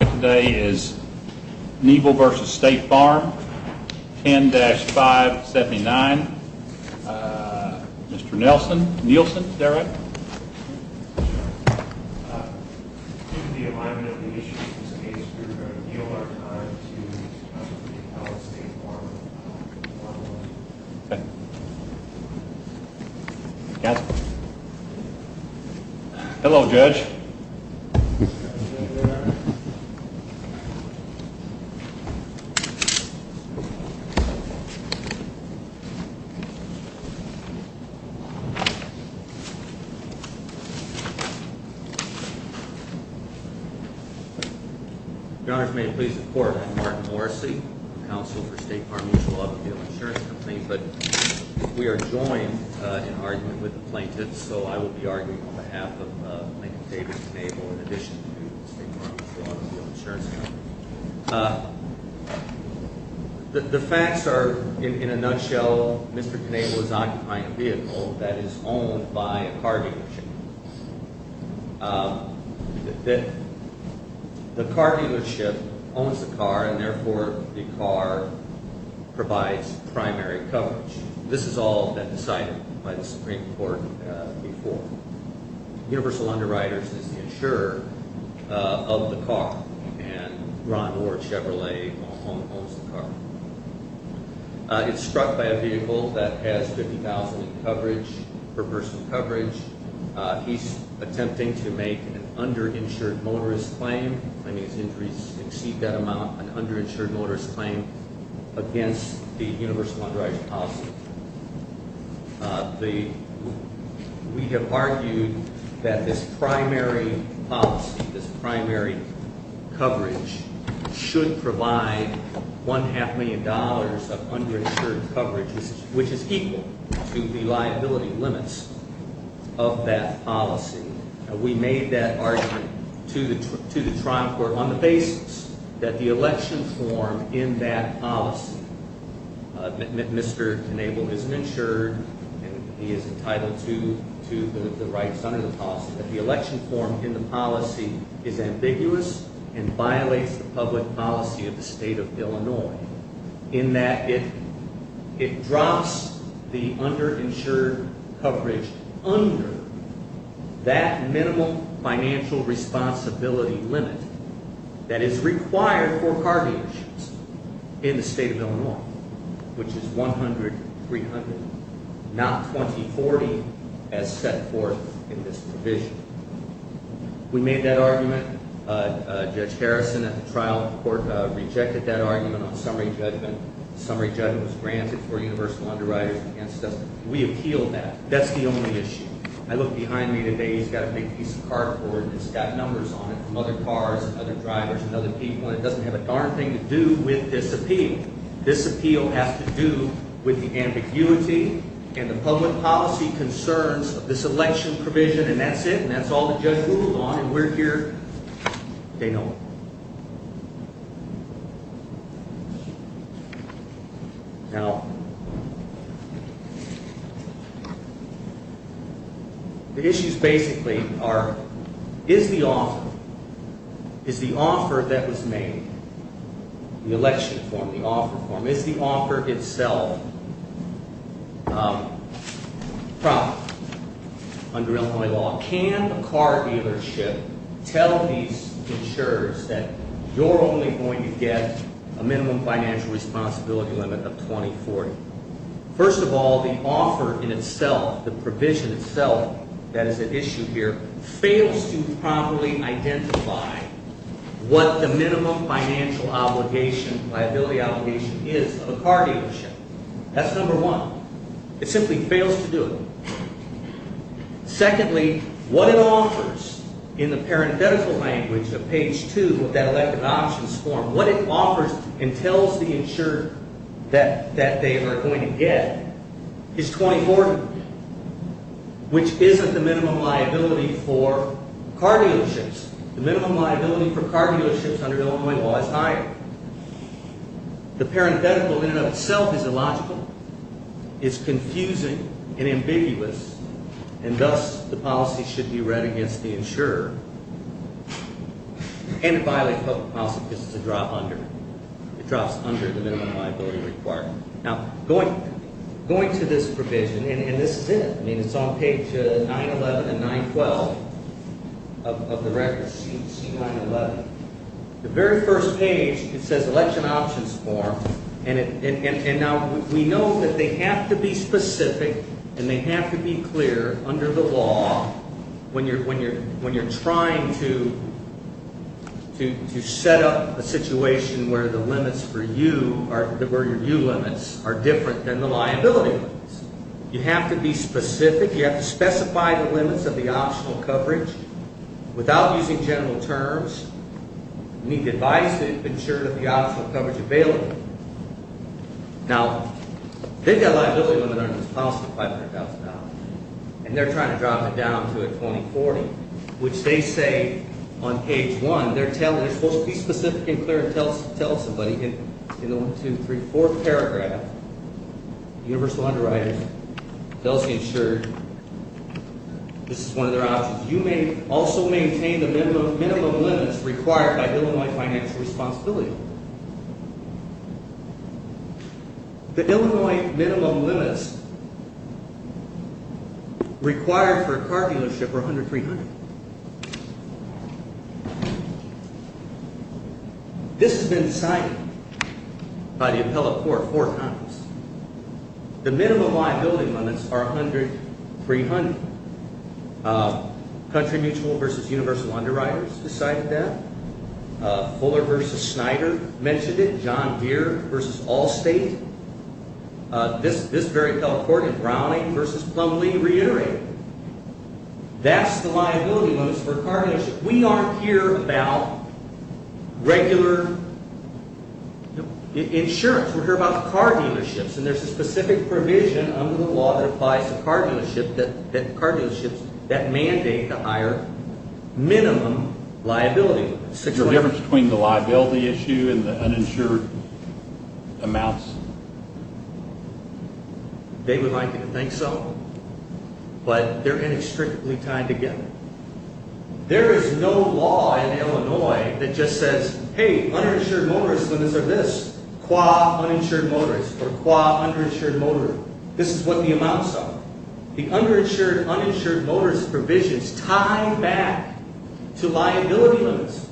Today is Nebel v. State Farm, 10-579. Mr. Nielsen, is that right? In the alignment of the issues in this case, we are going to yield our time to Mr. Nielsen of Nebel v. State Farm Mutual Automobile Insurance. Your Honors, may it please the Court, I'm Martin Morrissey, Counsel for State Farm Mutual Automobile Insurance Company. But we are joined in argument with the plaintiffs, so I will be arguing on behalf of Mr. David D. Nebel in addition to State Farm Mutual Automobile Insurance Company. The facts are, in a nutshell, Mr. Nebel is occupying a vehicle that is owned by a car dealership. The car dealership owns the car and therefore the car provides primary coverage. This has all been decided by the Supreme Court before. Universal Underwriters is the insurer of the car and Ron Ward Chevrolet owns the car. It's struck by a vehicle that has $50,000 in coverage, per person coverage. He's attempting to make an underinsured motorist claim, claiming his injuries exceed that amount, an underinsured motorist claim against the Universal Underwriters policy. We have argued that this primary policy, this primary coverage, should provide $1.5 million of underinsured coverage, which is equal to the liability limits of that policy. We made that argument to the Toronto Court on the basis that the election form in that policy, Mr. Nebel is an insurer and he is entitled to the rights under the policy, that the election form in the policy is ambiguous and violates the public policy of the state of Illinois, in that it drops the underinsured coverage under that minimal financial responsibility limit that is required for car dealerships in the state of Illinois, which is $100,000, $300,000, not $20,000, $40,000 as set forth in this provision. We made that argument. Judge Harrison at the trial of the court rejected that argument on summary judgment. Summary judgment was granted for Universal Underwriters against us. We appealed that. That's the only issue. I look behind me today, he's got a big piece of cardboard and it's got numbers on it from other cars and other drivers and other people, and it doesn't have a darn thing to do with this appeal. This appeal has to do with the ambiguity and the public policy concerns of this election provision, and that's it, and that's all the judge ruled on, and we're here to say no more. Now, the issues basically are, is the offer, is the offer that was made, the election form, the offer form, is the offer itself proper under Illinois law? Can a car dealership tell these insurers that you're only going to get a minimum financial responsibility limit of 2040? First of all, the offer in itself, the provision itself that is at issue here, fails to properly identify what the minimum financial obligation, liability obligation, is of a car dealership. That's number one. It simply fails to do it. Secondly, what it offers in the parenthetical language of page two of that elective options form, what it offers and tells the insurer that they are going to get is 2040, which isn't the minimum liability for car dealerships. The minimum liability for car dealerships under Illinois law is higher. The parenthetical in and of itself is illogical, is confusing and ambiguous, and thus the policy should be read against the insurer, and it violates public policy because it's a drop under, it drops under the minimum liability required. Now, going to this provision, and this is it. I mean, it's on page 911 and 912 of the record, C911. The very first page, it says election options form, and now we know that they have to be specific and they have to be clear under the law when you're trying to set up a situation where the limits for you are, where your new limits are different than the liability limits. You have to be specific. You have to specify the limits of the optional coverage without using general terms. You need advice to ensure that the optional coverage is available. Now, they've got a liability limit under this policy of $500,000, and they're trying to drop it down to a 2040, which they say on page one, they're supposed to be specific and clear and tell somebody in the 1, 2, 3, 4 paragraph, universal underwriting, policy insured, this is one of their options. You may also maintain the minimum limits required by Illinois financial responsibility. The Illinois minimum limits required for a car dealership are $100,000, $300,000. This has been decided by the appellate court four times. The minimum liability limits are $100,000, $300,000. Country Mutual v. Universal Underwriters decided that. Fuller v. Snyder mentioned it. John Deere v. Allstate. This very appellate court in Browning v. Plumlee reiterated it. That's the liability limits for a car dealership. We aren't here about regular insurance. We're here about car dealerships, and there's a specific provision under the law that applies to car dealerships that mandate the higher minimum liability. Is there a difference between the liability issue and the uninsured amounts? They would like you to think so, but they're inextricably tied together. There is no law in Illinois that just says, hey, uninsured motorists limits are this, qua uninsured motorist or qua underinsured motorist. This is what the amounts are. The underinsured, uninsured motorist provisions tie back to liability limits.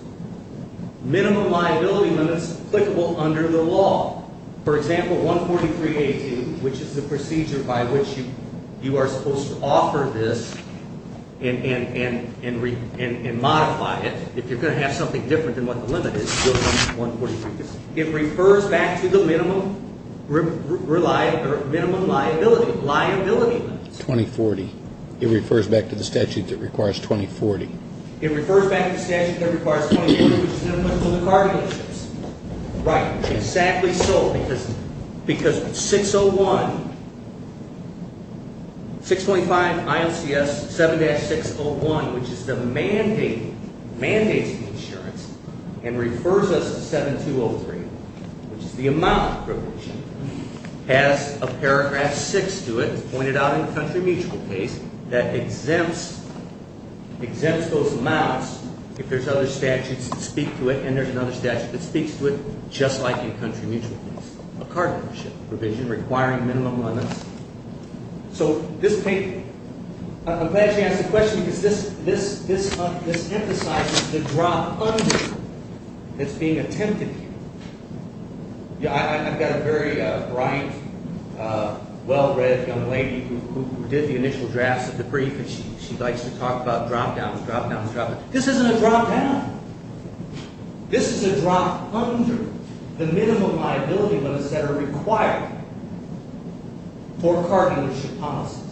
Minimum liability limits applicable under the law. For example, 143-18, which is the procedure by which you are supposed to offer this and modify it. If you're going to have something different than what the limit is, you'll come to 143-18. It refers back to the minimum liability, liability limits. 20-40. It refers back to the statute that requires 20-40. It refers back to the statute that requires 20-40, which is minimum for the car dealerships. Right, exactly so, because 601, 625 ILCS 7-601, which is the mandate, mandates the insurance and refers us to 7203, which is the amount provision, has a paragraph 6 to it, pointed out in the country mutual case, that exempts those amounts if there's other statutes that speak to it. And there's another statute that speaks to it just like a country mutual case, a car dealership provision requiring minimum limits. So this paper, I'm glad she asked the question because this emphasizes the drop under that's being attempted here. I've got a very bright, well-read young lady who did the initial drafts of the brief, and she likes to talk about drop downs, drop downs, drop downs. This isn't a drop down. This is a drop under the minimum liability limits that are required for car dealership policies.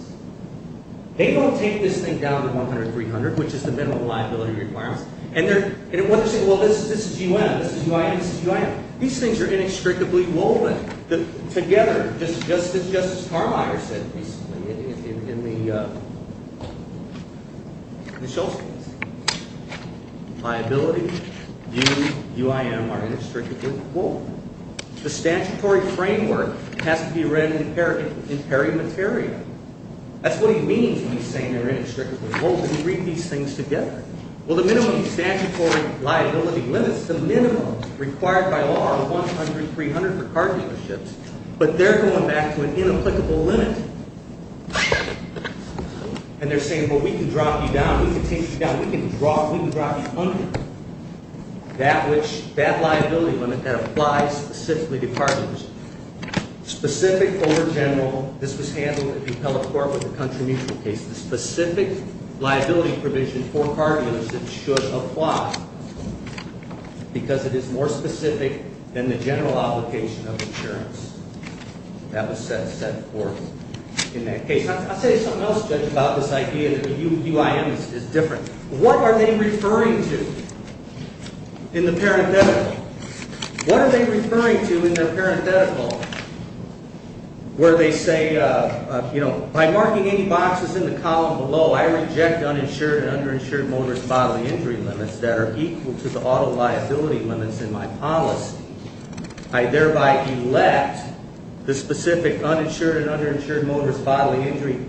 They don't take this thing down to 100-300, which is the minimum liability requirements, and they're saying, well, this is UN, this is UIN, this is UIN. These things are inextricably woven together, just as Justice Carlyle said recently in the Shulz case. Liability, U, UIN are inextricably woven. The statutory framework has to be read in perimeterium. That's what he means when he's saying they're inextricably woven. He brings these things together. Well, the minimum statutory liability limits, the minimum required by law are 100-300 for car dealerships, but they're going back to an inapplicable limit. And they're saying, well, we can drop you down, we can take you down, we can drop you under that liability limit that applies specifically to car dealers. Specific over general. This was handled at the appellate court with the country mutual case. The specific liability provision for car dealerships should apply because it is more specific than the general obligation of insurance. That was set forth in that case. I'll say something else, Judge, about this idea that UIN is different. What are they referring to in the parenthetical? What are they referring to in the parenthetical where they say, you know, by marking any boxes in the column below, I reject uninsured and underinsured motorist bodily injury limits that are equal to the auto liability limits in my policy. I thereby elect the specific uninsured and underinsured motorist bodily injury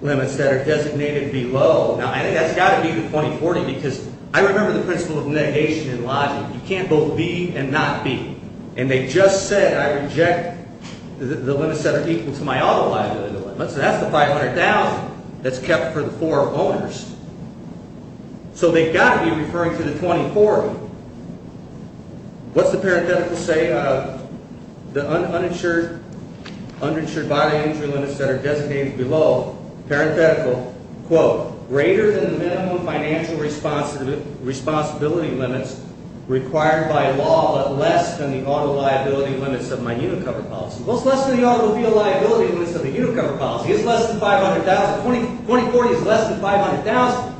limits that are designated below. Now, I think that's got to be the 2040 because I remember the principle of negation in lodging. You can't both be and not be. And they just said I reject the limits that are equal to my auto liability limits. That's the $500,000 that's kept for the four owners. So they've got to be referring to the 2040. What's the parenthetical say? The uninsured bodily injury limits that are designated below, parenthetical, quote, greater than the minimum financial responsibility limits required by law but less than the auto liability limits of my Unicover policy. Well, it's less than the auto liability limits of the Unicover policy. It's less than $500,000. The 2040 is less than $500,000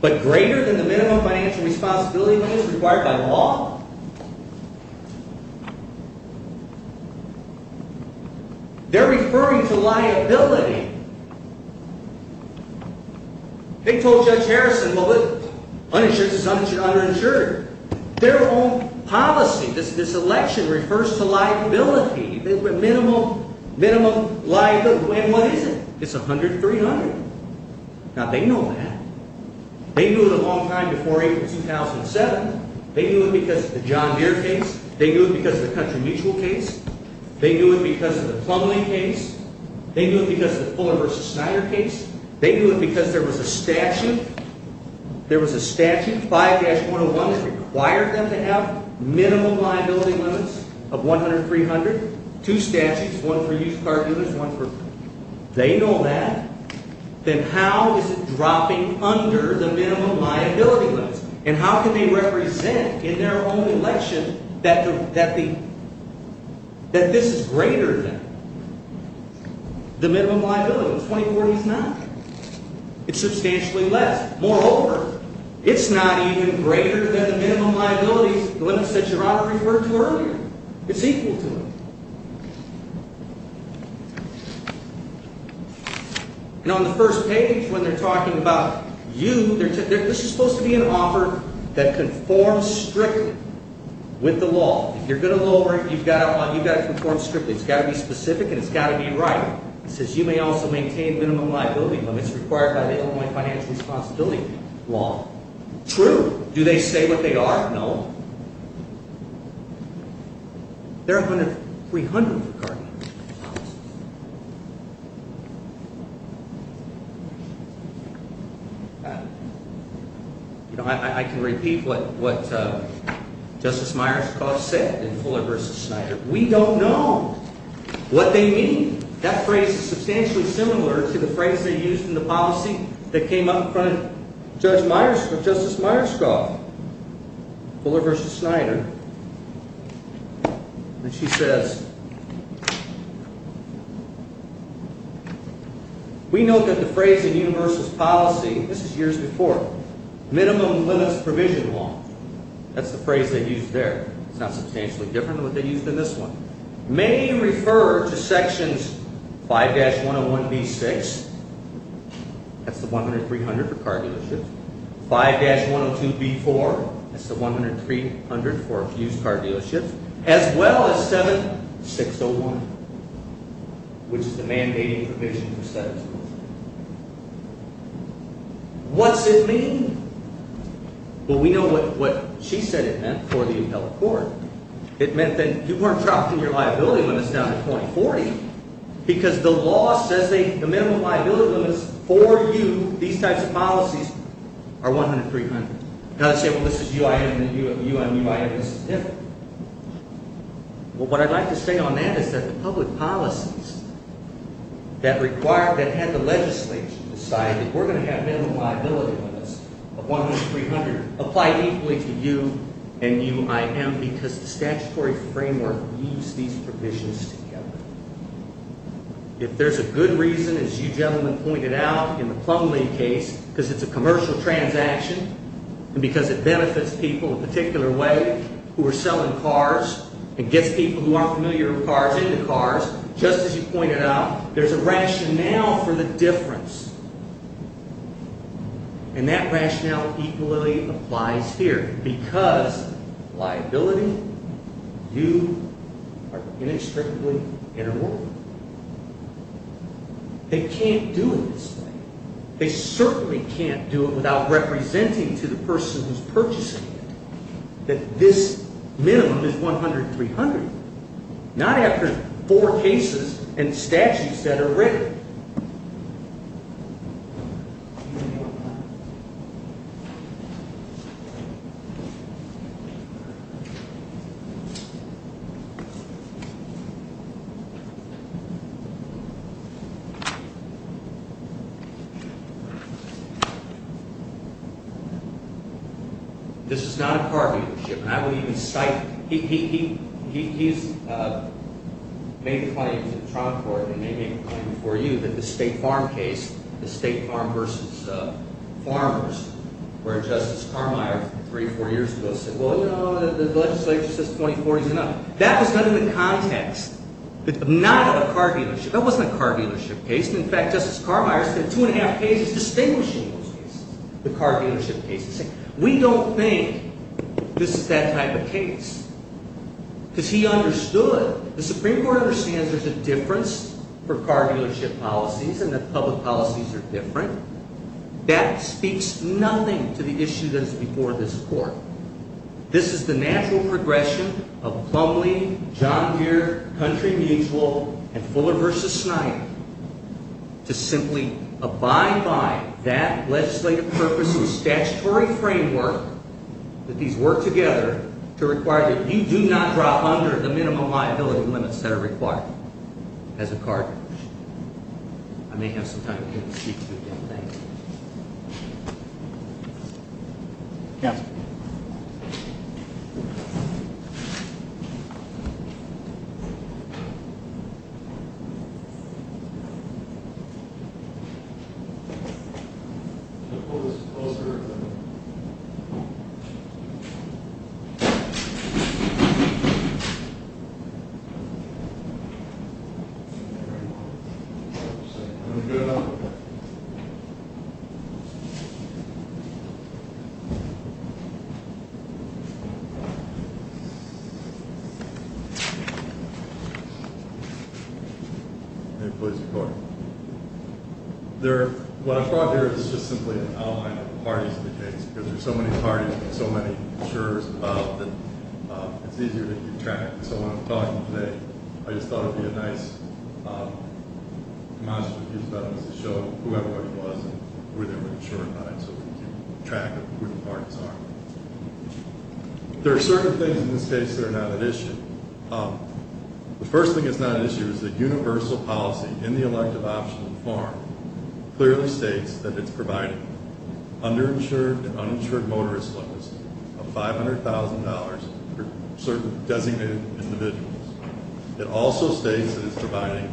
but greater than the minimum financial responsibility limits required by law. They're referring to liability. They told Judge Harrison, well, the uninsured is underinsured. Their own policy, this election, refers to liability, minimum liability. And what is it? It's 100-300. Now, they know that. They knew it a long time before April 2007. They knew it because of the John Deere case. They knew it because of the country mutual case. They knew it because of the Plumlee case. They knew it because of the Fuller v. Snyder case. They knew it because there was a statute, there was a statute, 5-101, that required them to have minimum liability limits of 100-300. Two statutes, one for used car dealers, one for, they know that. Then how is it dropping under the minimum liability limits? And how can they represent in their own election that this is greater than the minimum liability? The 2040 is not. It's substantially less. Moreover, it's not even greater than the minimum liability limits that Your Honor referred to earlier. It's equal to them. And on the first page, when they're talking about you, this is supposed to be an offer that conforms strictly with the law. If you're going to lower it, you've got to conform strictly. It's got to be specific and it's got to be right. It says you may also maintain minimum liability limits required by the Illinois financial responsibility law. True. Do they say what they are? No. They're 100-300 for car dealers. I can repeat what Justice Myerscough said in Fuller v. Snyder. We don't know what they mean. That phrase is substantially similar to the phrase they used in the policy that came up in front of Justice Myerscough. Fuller v. Snyder. And she says, We note that the phrase in Universalist policy, this is years before, minimum limits provision law. That's the phrase they used there. It's not substantially different than what they used in this one. Many refer to sections 5-101b-6, that's the 100-300 for car dealerships, 5-102b-4, that's the 100-300 for used car dealerships, as well as 7-601, which is the mandating provision for status quo. What's it mean? Well, we know what she said it meant for the appellate court. It meant that you weren't dropping your liability limits down to 20-40, because the law says the minimum liability limits for you, these types of policies, are 100-300. Now they say, well, this is UIM and UNUIM, this is different. Well, what I'd like to say on that is that the public policies that had the legislature decide that we're going to have minimum liability limits of 100-300 apply equally to you and UIM because the statutory framework moves these provisions together. If there's a good reason, as you gentlemen pointed out in the plumbing case, because it's a commercial transaction and because it benefits people in a particular way who are selling cars and gets people who aren't familiar with cars into cars, just as you pointed out, there's a rationale for the difference. And that rationale equally applies here, because liability, you are inextricably interwoven. They can't do it this way. They certainly can't do it without representing to the person who's purchasing it that this minimum is 100-300, not after four cases and statutes that are written. Do you have any more questions? This is not a car dealership, and I wouldn't even cite – he's made a claim to the trial court and they made a claim before you that the State Farm case, the State Farm v. Farmers, where Justice Carmeier three or four years ago said, well, you know, the legislature says 2040 is enough. That was not in the context, not of a car dealership. That wasn't a car dealership case. In fact, Justice Carmeier said two and a half cases distinguishing those cases, the car dealership cases. We don't think this is that type of case, because he understood. The Supreme Court understands there's a difference for car dealership policies and that public policies are different. That speaks nothing to the issue that is before this court. This is the natural progression of Plumlee, John Deere, Country Mutual, and Fuller v. Snipe to simply abide by that legislative purpose and statutory framework that these work together to require that you do not drop under the minimum liability limits that are required as a car dealer. I may have some time to speak to you again. Thank you. Yes. May it please the Court. What I've brought here is just simply an outline of the parties in the case, because there's so many parties and so many jurors involved that it's easier to keep track. So when I'm talking today, I just thought it would be a nice demonstrative use of evidence to show whoever it was and who they were insured by, so we can keep track of who the parties are. There are certain things in this case that are not at issue. The first thing that's not at issue is that universal policy in the elective optional form clearly states that it's providing underinsured and uninsured motorist loans of $500,000 for certain designated individuals. It also states that it's providing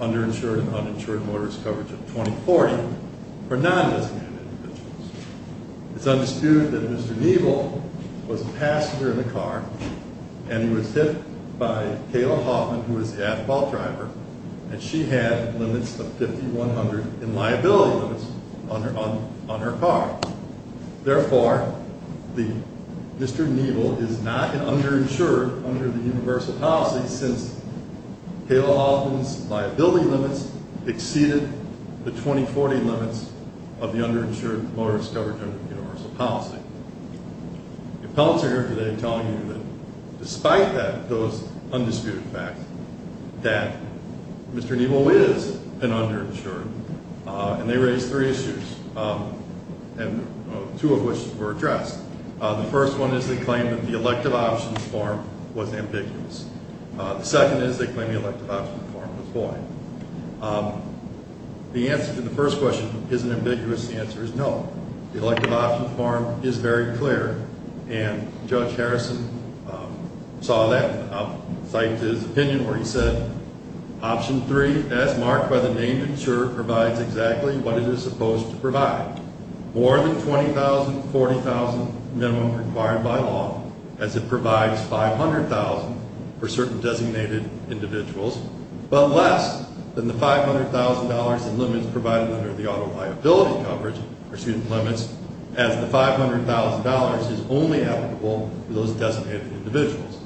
underinsured and uninsured motorist coverage of $2,040,000 for non-designated individuals. It's undisputed that Mr. Niebel was a passenger in the car, and he was hit by Kayla Hoffman, who was the asphalt driver, and she had limits of $5,100 in liability limits on her car. Therefore, Mr. Niebel is not an underinsured under the universal policy since Kayla Hoffman's liability limits exceeded the $2,040 limits of the underinsured motorist coverage under the universal policy. The appellants are here today telling you that despite those undisputed facts, that Mr. Niebel is an underinsured, and they raised three issues. Two of which were addressed. The first one is they claim that the elective options form was ambiguous. The second is they claim the elective options form was void. The answer to the first question, is it ambiguous, the answer is no. The elective options form is very clear, and Judge Harrison saw that, cited his opinion where he said, Option 3, as marked by the name insurer, provides exactly what it is supposed to provide. More than $20,000, $40,000 minimum required by law, as it provides $500,000 for certain designated individuals, but less than the $500,000 in limits provided under the auto liability coverage, or student limits, as the $500,000 is only applicable to those designated individuals.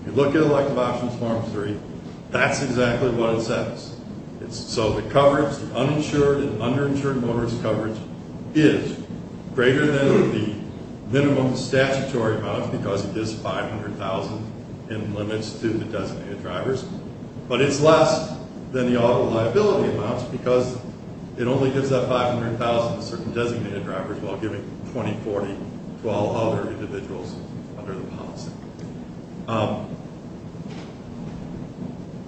If you look at elective options form 3, that's exactly what it says. So the coverage, the uninsured and underinsured motorist coverage, is greater than the minimum statutory amount, because it gives $500,000 in limits to the designated drivers, but it's less than the auto liability amounts, because it only gives that $500,000 to certain designated drivers, while giving $20,000, $40,000 to all other individuals under the policy.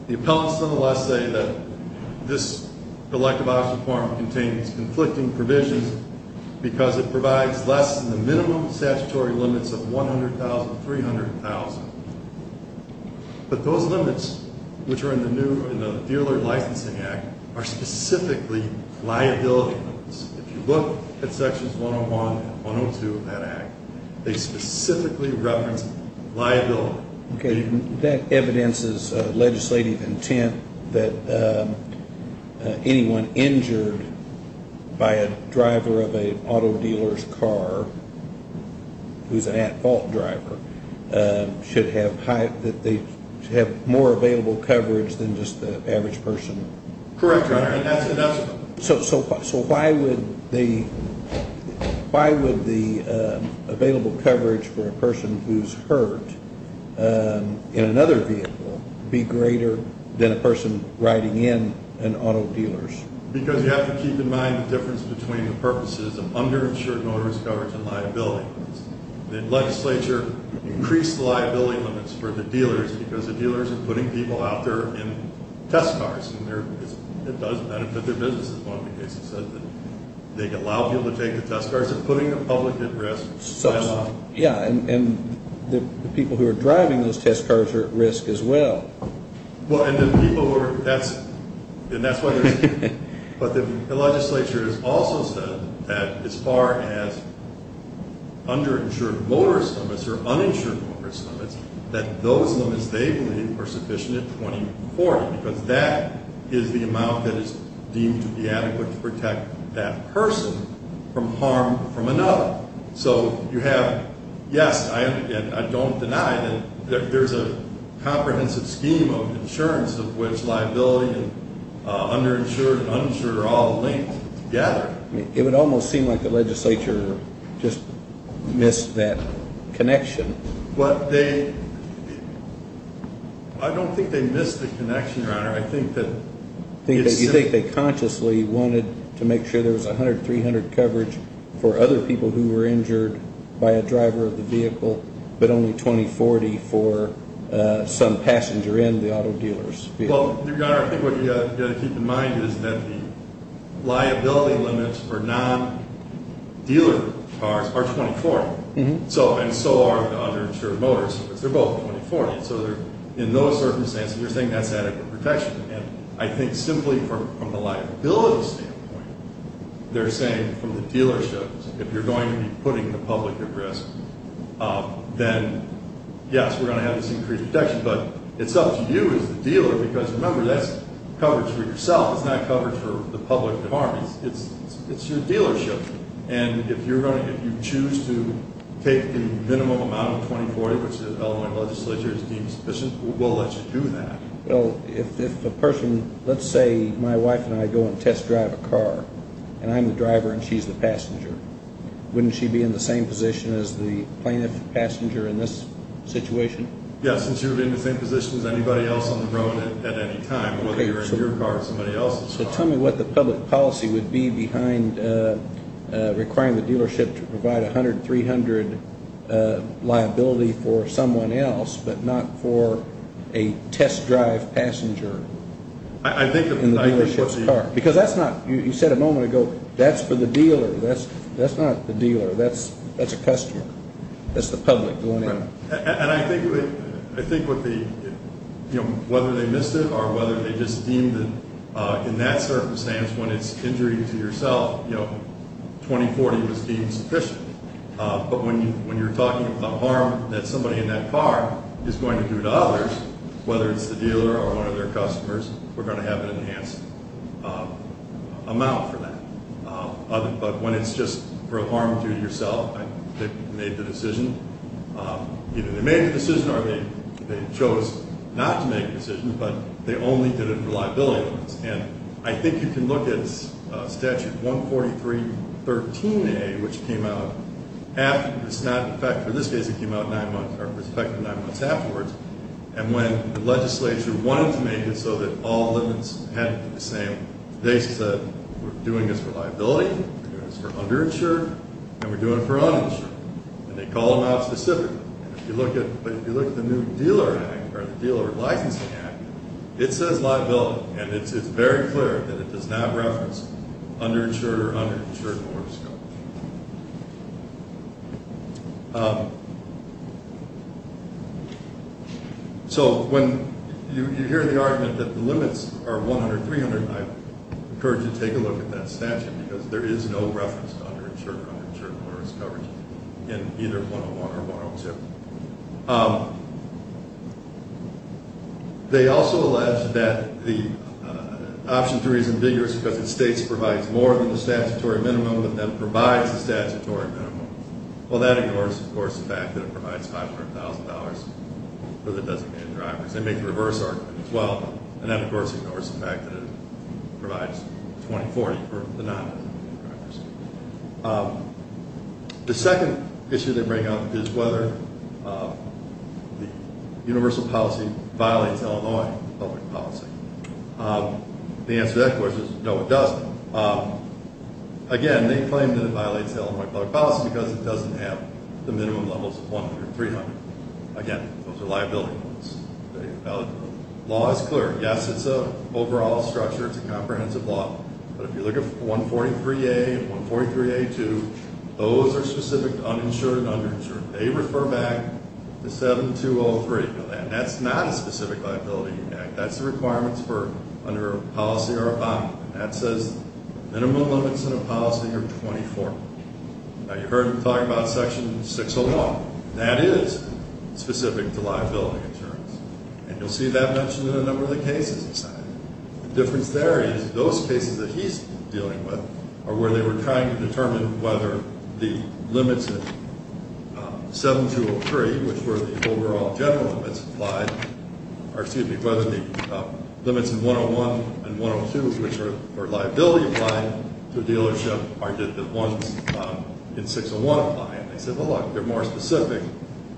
The appellants, nonetheless, say that this elective options form contains conflicting provisions, because it provides less than the minimum statutory limits of $100,000, $300,000. But those limits, which are in the new, in the Fuhrer Licensing Act, are specifically liability limits. If you look at sections 101 and 102 of that act, they specifically reference liability. Okay, that evidences legislative intent that anyone injured by a driver of an auto dealer's car, who's an at-fault driver, should have more available coverage than just the average person. Correct, Your Honor, and that's enough. So why would the available coverage for a person who's hurt in another vehicle be greater than a person riding in an auto dealer's? Because you have to keep in mind the difference between the purposes of underinsured motorist coverage and liability. The legislature increased the liability limits for the dealers, because the dealers are putting people out there in test cars, and it does benefit their business as well, because it says that they allow people to take the test cars. They're putting the public at risk. Yeah, and the people who are driving those test cars are at risk as well. Well, and the people who are, and that's why there's, but the legislature has also said that as far as underinsured motorist limits or uninsured motorist limits, that those limits they believe are sufficient at 2040, because that is the amount that is deemed to be adequate to protect that person from harm from another. So you have, yes, and I don't deny that there's a comprehensive scheme of insurance of which liability and underinsured and uninsured are all linked together. It would almost seem like the legislature just missed that connection. Well, they, I don't think they missed the connection, Your Honor. I think that it's simply. You think they consciously wanted to make sure there was 100, 300 coverage for other people who were injured by a driver of the vehicle, but only 2040 for some passenger in the auto dealer's vehicle. Well, Your Honor, I think what you've got to keep in mind is that the liability limits for non-dealer cars are 2040. And so are the underinsured motorists. They're both 2040. So in those circumstances, you're saying that's adequate protection. And I think simply from the liability standpoint, they're saying from the dealership, if you're going to be putting the public at risk, then, yes, we're going to have this increased protection. But it's up to you as the dealer because, remember, that's coverage for yourself. It's not coverage for the public at harm. It's your dealership. And if you choose to take the minimum amount of 2040, which the Illinois legislature deems sufficient, we'll let you do that. Well, if a person, let's say my wife and I go and test drive a car, and I'm the driver and she's the passenger, wouldn't she be in the same position as the plaintiff passenger in this situation? Yes, and she would be in the same position as anybody else on the road at any time, whether you're in your car or somebody else's car. So tell me what the public policy would be behind requiring the dealership to provide 100, 300 liability for someone else but not for a test drive passenger in the dealership's car. Because that's not, you said a moment ago, that's for the dealer. That's not the dealer. That's a customer. That's the public going in. And I think whether they missed it or whether they just deemed it in that circumstance when it's injury to yourself, 2040 was deemed sufficient. But when you're talking about the harm that somebody in that car is going to do to others, whether it's the dealer or one of their customers, we're going to have an enhanced amount for that. But when it's just for harm to yourself, they made the decision. Either they made the decision or they chose not to make the decision, but they only did it for liability. And I think you can look at Statute 143.13a, which came out after. It's not in effect. For this case, it came out nine months, or it was effective nine months afterwards. And when the legislature wanted to make it so that all limits had to be the same, they said we're doing this for liability, we're doing this for underinsured, and we're doing it for uninsured. And they call them out specifically. But if you look at the new dealer act, or the dealer licensing act, it says liability, and it's very clear that it does not reference underinsured or underinsured owners. So when you hear the argument that the limits are 100, 300, I encourage you to take a look at that statute, because there is no reference to underinsured or underinsured owners covered in either 101 or 102. They also allege that the option three is ambiguous because it states it provides more than the statutory minimum, and then provides the statutory minimum. Well, that ignores, of course, the fact that it provides $500,000 for the designated drivers. They make the reverse argument as well, and that, of course, ignores the fact that it provides 2040 for the non-designated drivers. The second issue they bring up is whether the universal policy violates Illinois public policy. The answer to that question is no, it doesn't. Again, they claim that it violates Illinois public policy because it doesn't have the minimum levels of 100 or 300. Again, those are liability rules. The law is clear. Yes, it's an overall structure. It's a comprehensive law. But if you look at 143A and 143A2, those are specific to uninsured and underinsured. They refer back to 7203. Now, that's not a specific liability act. That's the requirements for under a policy or a bond. That says minimum limits in a policy are 24. Now, you heard them talking about section 601. That is specific to liability insurance, and you'll see that mentioned in a number of the cases in the Senate. The difference there is those cases that he's dealing with are where they were trying to determine whether the limits in 7203, which were the overall general limits applied, or excuse me, whether the limits in 101 and 102, which are liability applying to a dealership, are the ones in 601 applying. They said, well, look, they're more specific.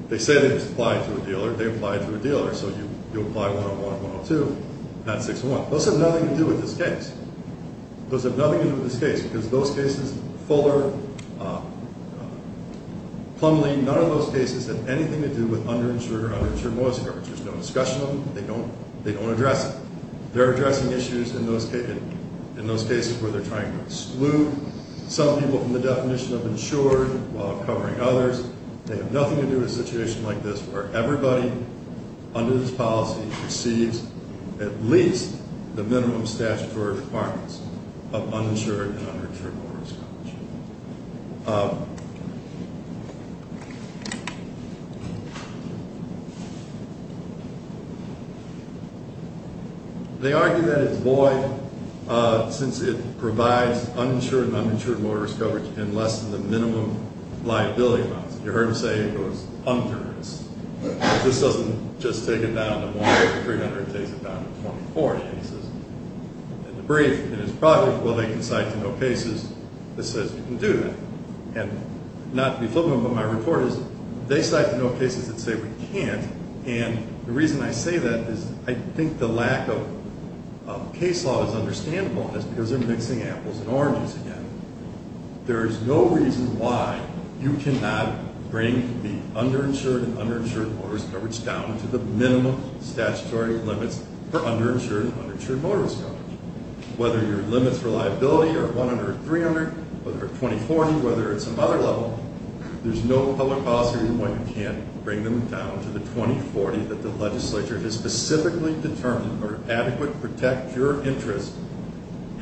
They say they apply to a dealer. They apply to a dealer. So you apply 101 and 102. That's 601. Those have nothing to do with this case. Those have nothing to do with this case because those cases, Fuller, Plumlee, none of those cases have anything to do with underinsured or underinsured motorists. There's no discussion of them. They don't address it. They're addressing issues in those cases where they're trying to exclude some people from the definition of insured while covering others. They have nothing to do with a situation like this where everybody under this policy receives at least the minimum statutory requirements of uninsured and underinsured motorist coverage. They argue that it's void since it provides uninsured and uninsured motorist coverage in less than the minimum liability amounts. You heard him say it goes hundreds. This doesn't just take it down to 100 to 300. It takes it down to 24. And the brief in his project, well, they can cite to no cases that says you can do that. And not to be flippant, but my report is they cite to no cases that say we can't, and the reason I say that is I think the lack of case law is understandable because they're mixing apples and oranges again. There is no reason why you cannot bring the underinsured and underinsured motorist coverage down to the minimum statutory limits for underinsured and underinsured motorist coverage. Whether your limits for liability are 100 or 300, whether they're 2040, whether it's some other level, there's no public policy reason why you can't bring them down to the 2040 that the legislature has specifically determined are adequate to protect your interest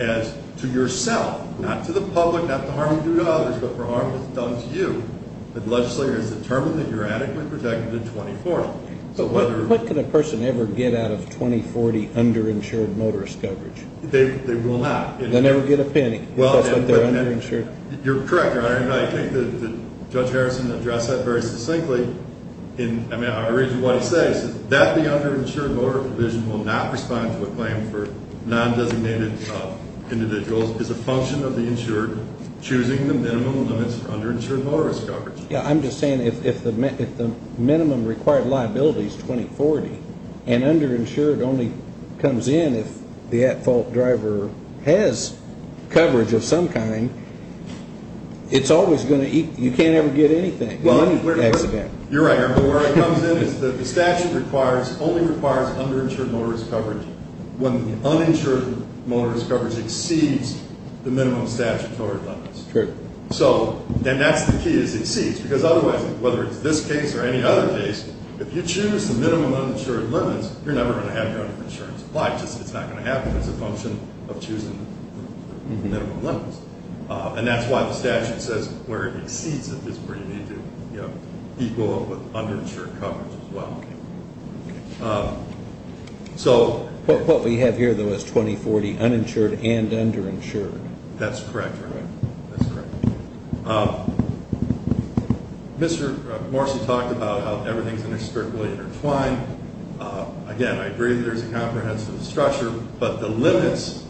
as to yourself, not to the public, not to harm you or others, but for harm that's done to you, the legislature has determined that you're adequately protected in 2040. But what can a person ever get out of 2040 underinsured motorist coverage? They will not. They'll never get a penny because they're underinsured. You're correct, Your Honor, and I think that Judge Harrison addressed that very succinctly. I mean, I read you what he says. That the underinsured motorist provision will not respond to a claim for non-designated individuals as a function of the insured choosing the minimum limits for underinsured motorist coverage. Yeah, I'm just saying if the minimum required liability is 2040 and underinsured only comes in if the at-fault driver has coverage of some kind, it's always going to eat you can't ever get anything in any accident. You're right, Your Honor. Where it comes in is that the statute only requires underinsured motorist coverage. When the uninsured motorist coverage exceeds the minimum statutory limits. True. So then that's the key, is it exceeds. Because otherwise, whether it's this case or any other case, if you choose the minimum uninsured limits, you're never going to have your insurance applied. It's not going to happen. It's a function of choosing minimum limits. And that's why the statute says where it exceeds it is where you need to equal it with underinsured coverage as well. Okay. So. What we have here, though, is 2040 uninsured and underinsured. That's correct, Your Honor. That's correct. Mr. Morsi talked about how everything is inextricably intertwined. Again, I agree there's a comprehensive structure, but the limits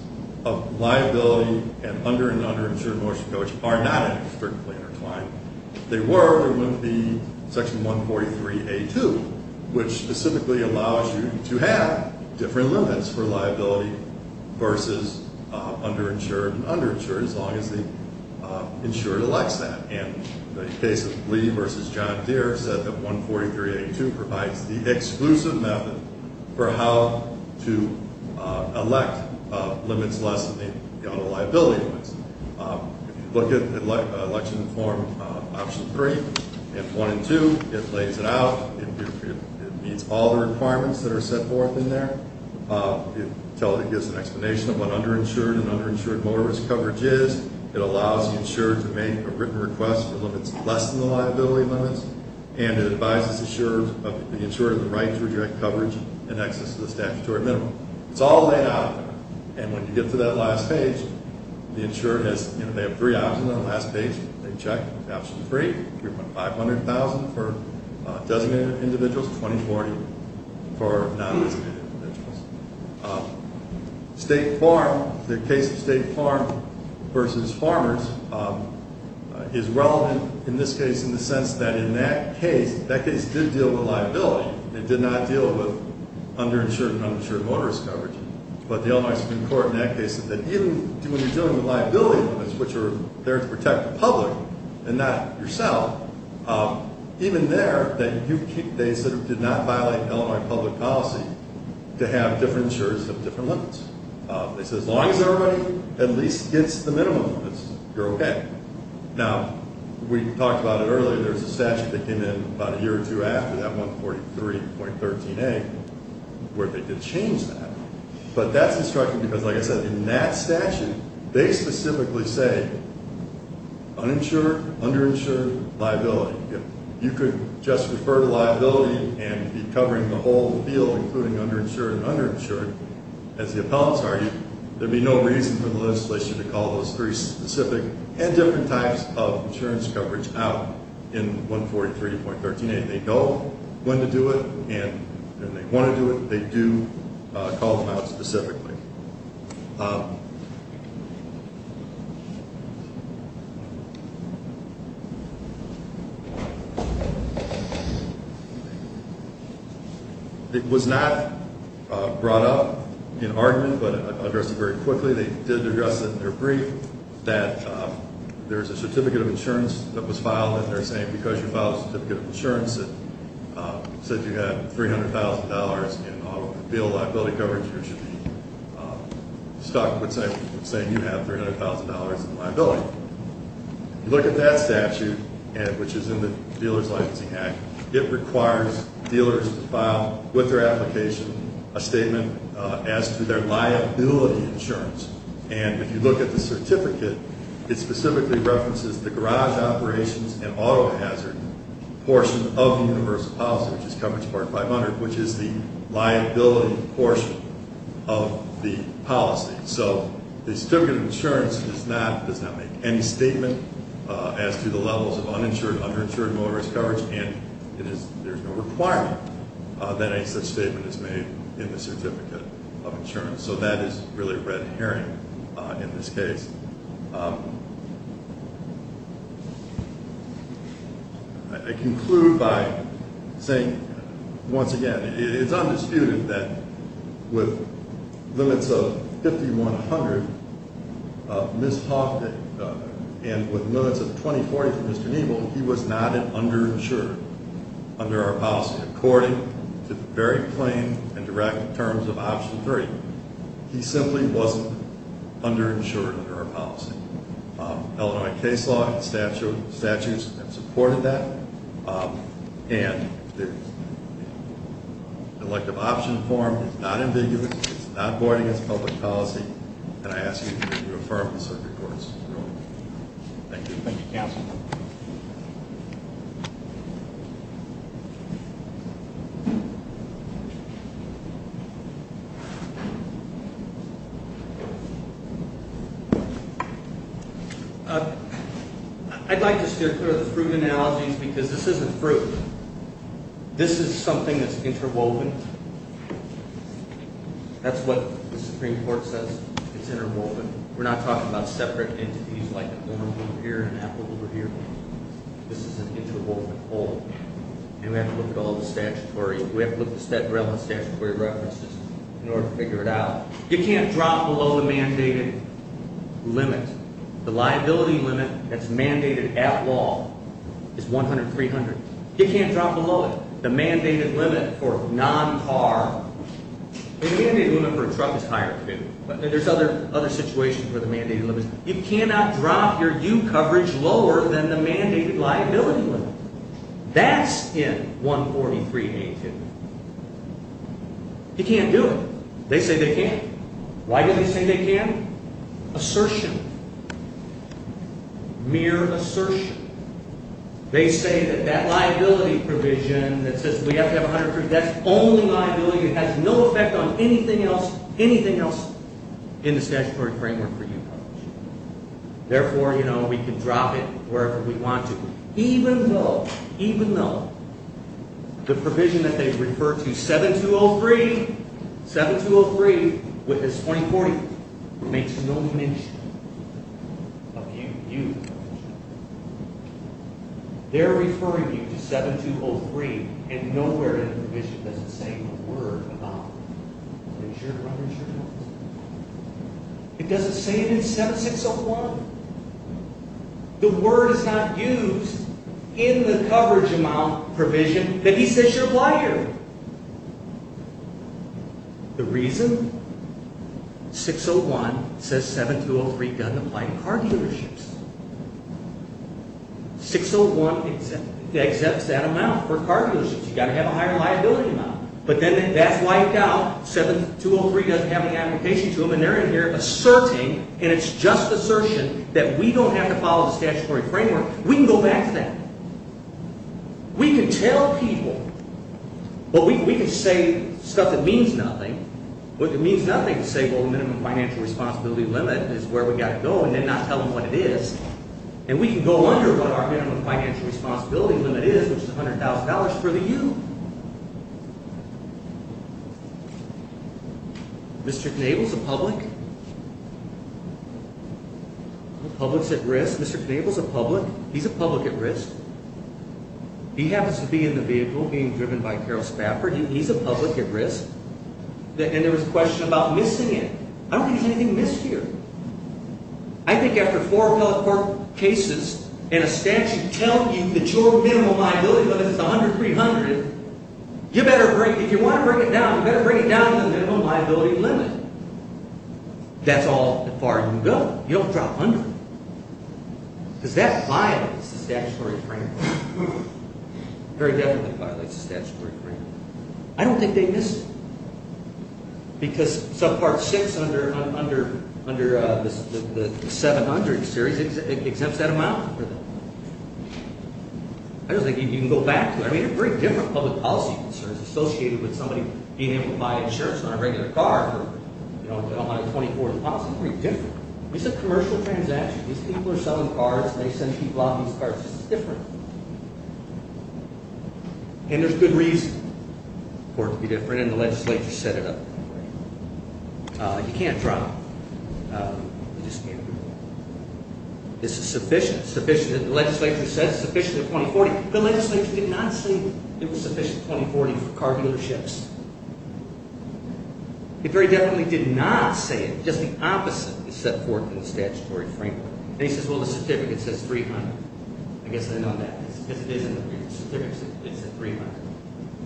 of liability and under and underinsured motorist coverage are not inextricably intertwined. If they were, it would be Section 143A2, which specifically allows you to have different limits for liability versus underinsured and underinsured, as long as the insured elects that. And the case of Lee v. John Deere said that 143A2 provides the exclusive method for how to elect limits less than the auto liability limits. If you look at Election Reform Option 3 and 1 and 2, it lays it out. It meets all the requirements that are set forth in there. It gives an explanation of what underinsured and underinsured motorist coverage is. It allows the insured to make a written request for limits less than the liability limits. And it advises the insurer of the right to reject coverage in excess of the statutory minimum. It's all laid out. And when you get to that last page, the insurer has, you know, they have three options on the last page. They check Option 3, 3.500,000 for designated individuals, 2,040 for non-designated individuals. State Farm, the case of State Farm v. Farmers is relevant in this case in the sense that in that case, that case did deal with liability. It did not deal with underinsured and uninsured motorist coverage. But the Illinois Supreme Court in that case said that even when you're dealing with liability limits, which are there to protect the public and not yourself, even there they sort of did not violate Illinois public policy to have different insurers have different limits. They said as long as everybody at least gets the minimum limits, you're okay. Now, we talked about it earlier. There's a statute that came in about a year or two after that 143.13a where they did change that. But that's instructive because, like I said, in that statute, they specifically say uninsured, underinsured, liability. If you could just refer to liability and be covering the whole field, including underinsured and underinsured, as the appellants argue, there'd be no reason for the legislation to call those three specific and different types of insurance coverage out in 143.13a. They know when to do it and when they want to do it. They do call them out specifically. It was not brought up in argument but addressed it very quickly. They did address it in their brief that there's a certificate of insurance that was filed and they're saying because you filed a certificate of insurance that said you have $300,000 in auto liability coverage, you should be stuck with saying you have $300,000 in liability. Look at that statute, which is in the Dealer's Licensing Act. It requires dealers to file with their application a statement as to their liability insurance. And if you look at the certificate, it specifically references the garage operations and auto hazard portion of the universal policy, which is coverage part 500, which is the liability portion of the policy. So the certificate of insurance does not make any statement as to the levels of uninsured, underinsured, motorist coverage and there's no requirement that any such statement is made in the certificate of insurance. So that is really red herring in this case. I conclude by saying, once again, it's undisputed that with limits of 5,100, Ms. Hawk and with limits of 2040 for Mr. Neible, he was not an underinsured under our policy. According to the very plain and direct terms of Option 3, he simply wasn't underinsured under our policy. Illinois case law and statutes have supported that. And the elective option form is not ambiguous. It's not board against public policy. And I ask you to reaffirm the circuit court's ruling. Thank you. Thank you, counsel. I'd like to steer clear of the fruit analogies because this isn't fruit. This is something that's interwoven. That's what the Supreme Court says. It's interwoven. We're not talking about separate entities like an orange over here and an apple over here. This is an interwoven whole. And we have to look at all the statutory. We have to look at the relevant statutory references in order to figure it out. You can't drop below the mandated limit. The liability limit that's mandated at law is 100-300. You can't drop below it. The mandated limit for non-car, the mandated limit for a truck is higher, too. There's other situations where the mandated limit is. You cannot drop your U coverage lower than the mandated liability limit. That's in 143A2. You can't do it. They say they can't. Why do they say they can? Assertion. Mere assertion. They say that that liability provision that says we have to have 100-300, that's only liability. It has no effect on anything else, anything else in the statutory framework for U coverage. Therefore, you know, we can drop it wherever we want to. Even though, even though the provision that they refer to 7203, 7203 with this 2040 makes no mention of U coverage. They're referring you to 7203 and nowhere in the provision does it say a word about insured or uninsured coverage. It doesn't say it in 7601. The word is not used in the coverage amount provision that he says should apply here. The reason? 601 says 7203 doesn't apply to car dealerships. 601 accepts that amount for car dealerships. You've got to have a higher liability amount. But then that's wiped out. 7203 doesn't have any application to them. And they're in here asserting, and it's just assertion, that we don't have to follow the statutory framework. We can go back to that. We can tell people, but we can say stuff that means nothing. What it means nothing to say, well, the minimum financial responsibility limit is where we've got to go and then not tell them what it is. And we can go under what our minimum financial responsibility limit is, which is $100,000 for the U. Mr. Knabel's a public? The public's at risk? Mr. Knabel's a public? He's a public at risk. He happens to be in the vehicle being driven by Carol Spafford. He's a public at risk. And there was a question about missing it. I don't think there's anything missed here. I think after four appellate court cases and a statute telling you that your minimum liability limit is $100,000, $300,000, you better bring it down. If you want to bring it down, you better bring it down to the minimum liability limit. That's all that far you can go. You don't drop under it. Because that violates the statutory framework. Very definitely violates the statutory framework. I don't think they missed it. Because subpart 6 under the 700 series exempts that amount. I don't think you can go back to it. I mean, they're very different public policy concerns associated with somebody being able to buy insurance on a regular car. They don't have 24-hour policy. It's very different. This is a commercial transaction. These people are selling cars, and they send people out on these cars. This is different. And there's good reason for it to be different, and the legislature set it up that way. You can't drop. You just can't do it. This is sufficient. The legislature said it's sufficient at 2040. The legislature did not say it was sufficient at 2040 for car dealerships. It very definitely did not say it. Just the opposite is set forth in the statutory framework. And he says, well, the certificate says $300,000. It said $300,000.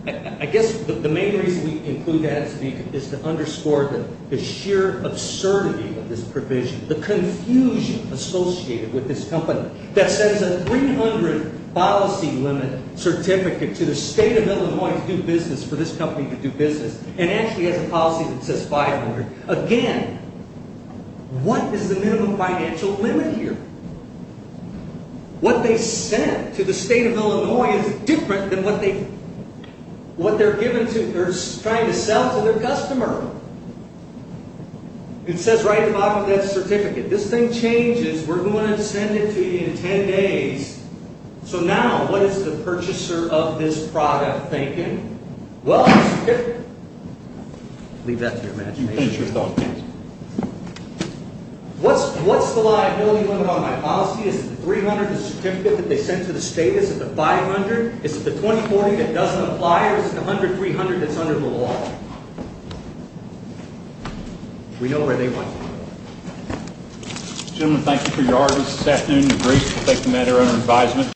I guess the main reason we include that is to underscore the sheer absurdity of this provision, the confusion associated with this company, that says a $300,000 policy limit certificate to the state of Illinois to do business, for this company to do business, and actually has a policy that says $500,000. Again, what is the minimum financial limit here? What they sent to the state of Illinois is different than what they're trying to sell to their customer. It says right at the bottom of that certificate. This thing changes. We're going to send it to you in 10 days. So now, what is the purchaser of this product thinking? Well, the certificate. Leave that to your imagination. What's the liability limit on my policy? Is it the $300,000 certificate that they sent to the state? Is it the $500,000? Is it the $2,040,000 that doesn't apply? Or is it the $100,000, $300,000 that's under the law? We know where they want to go. Gentlemen, thank you for your hard work this afternoon. The group will take the matter under advisement.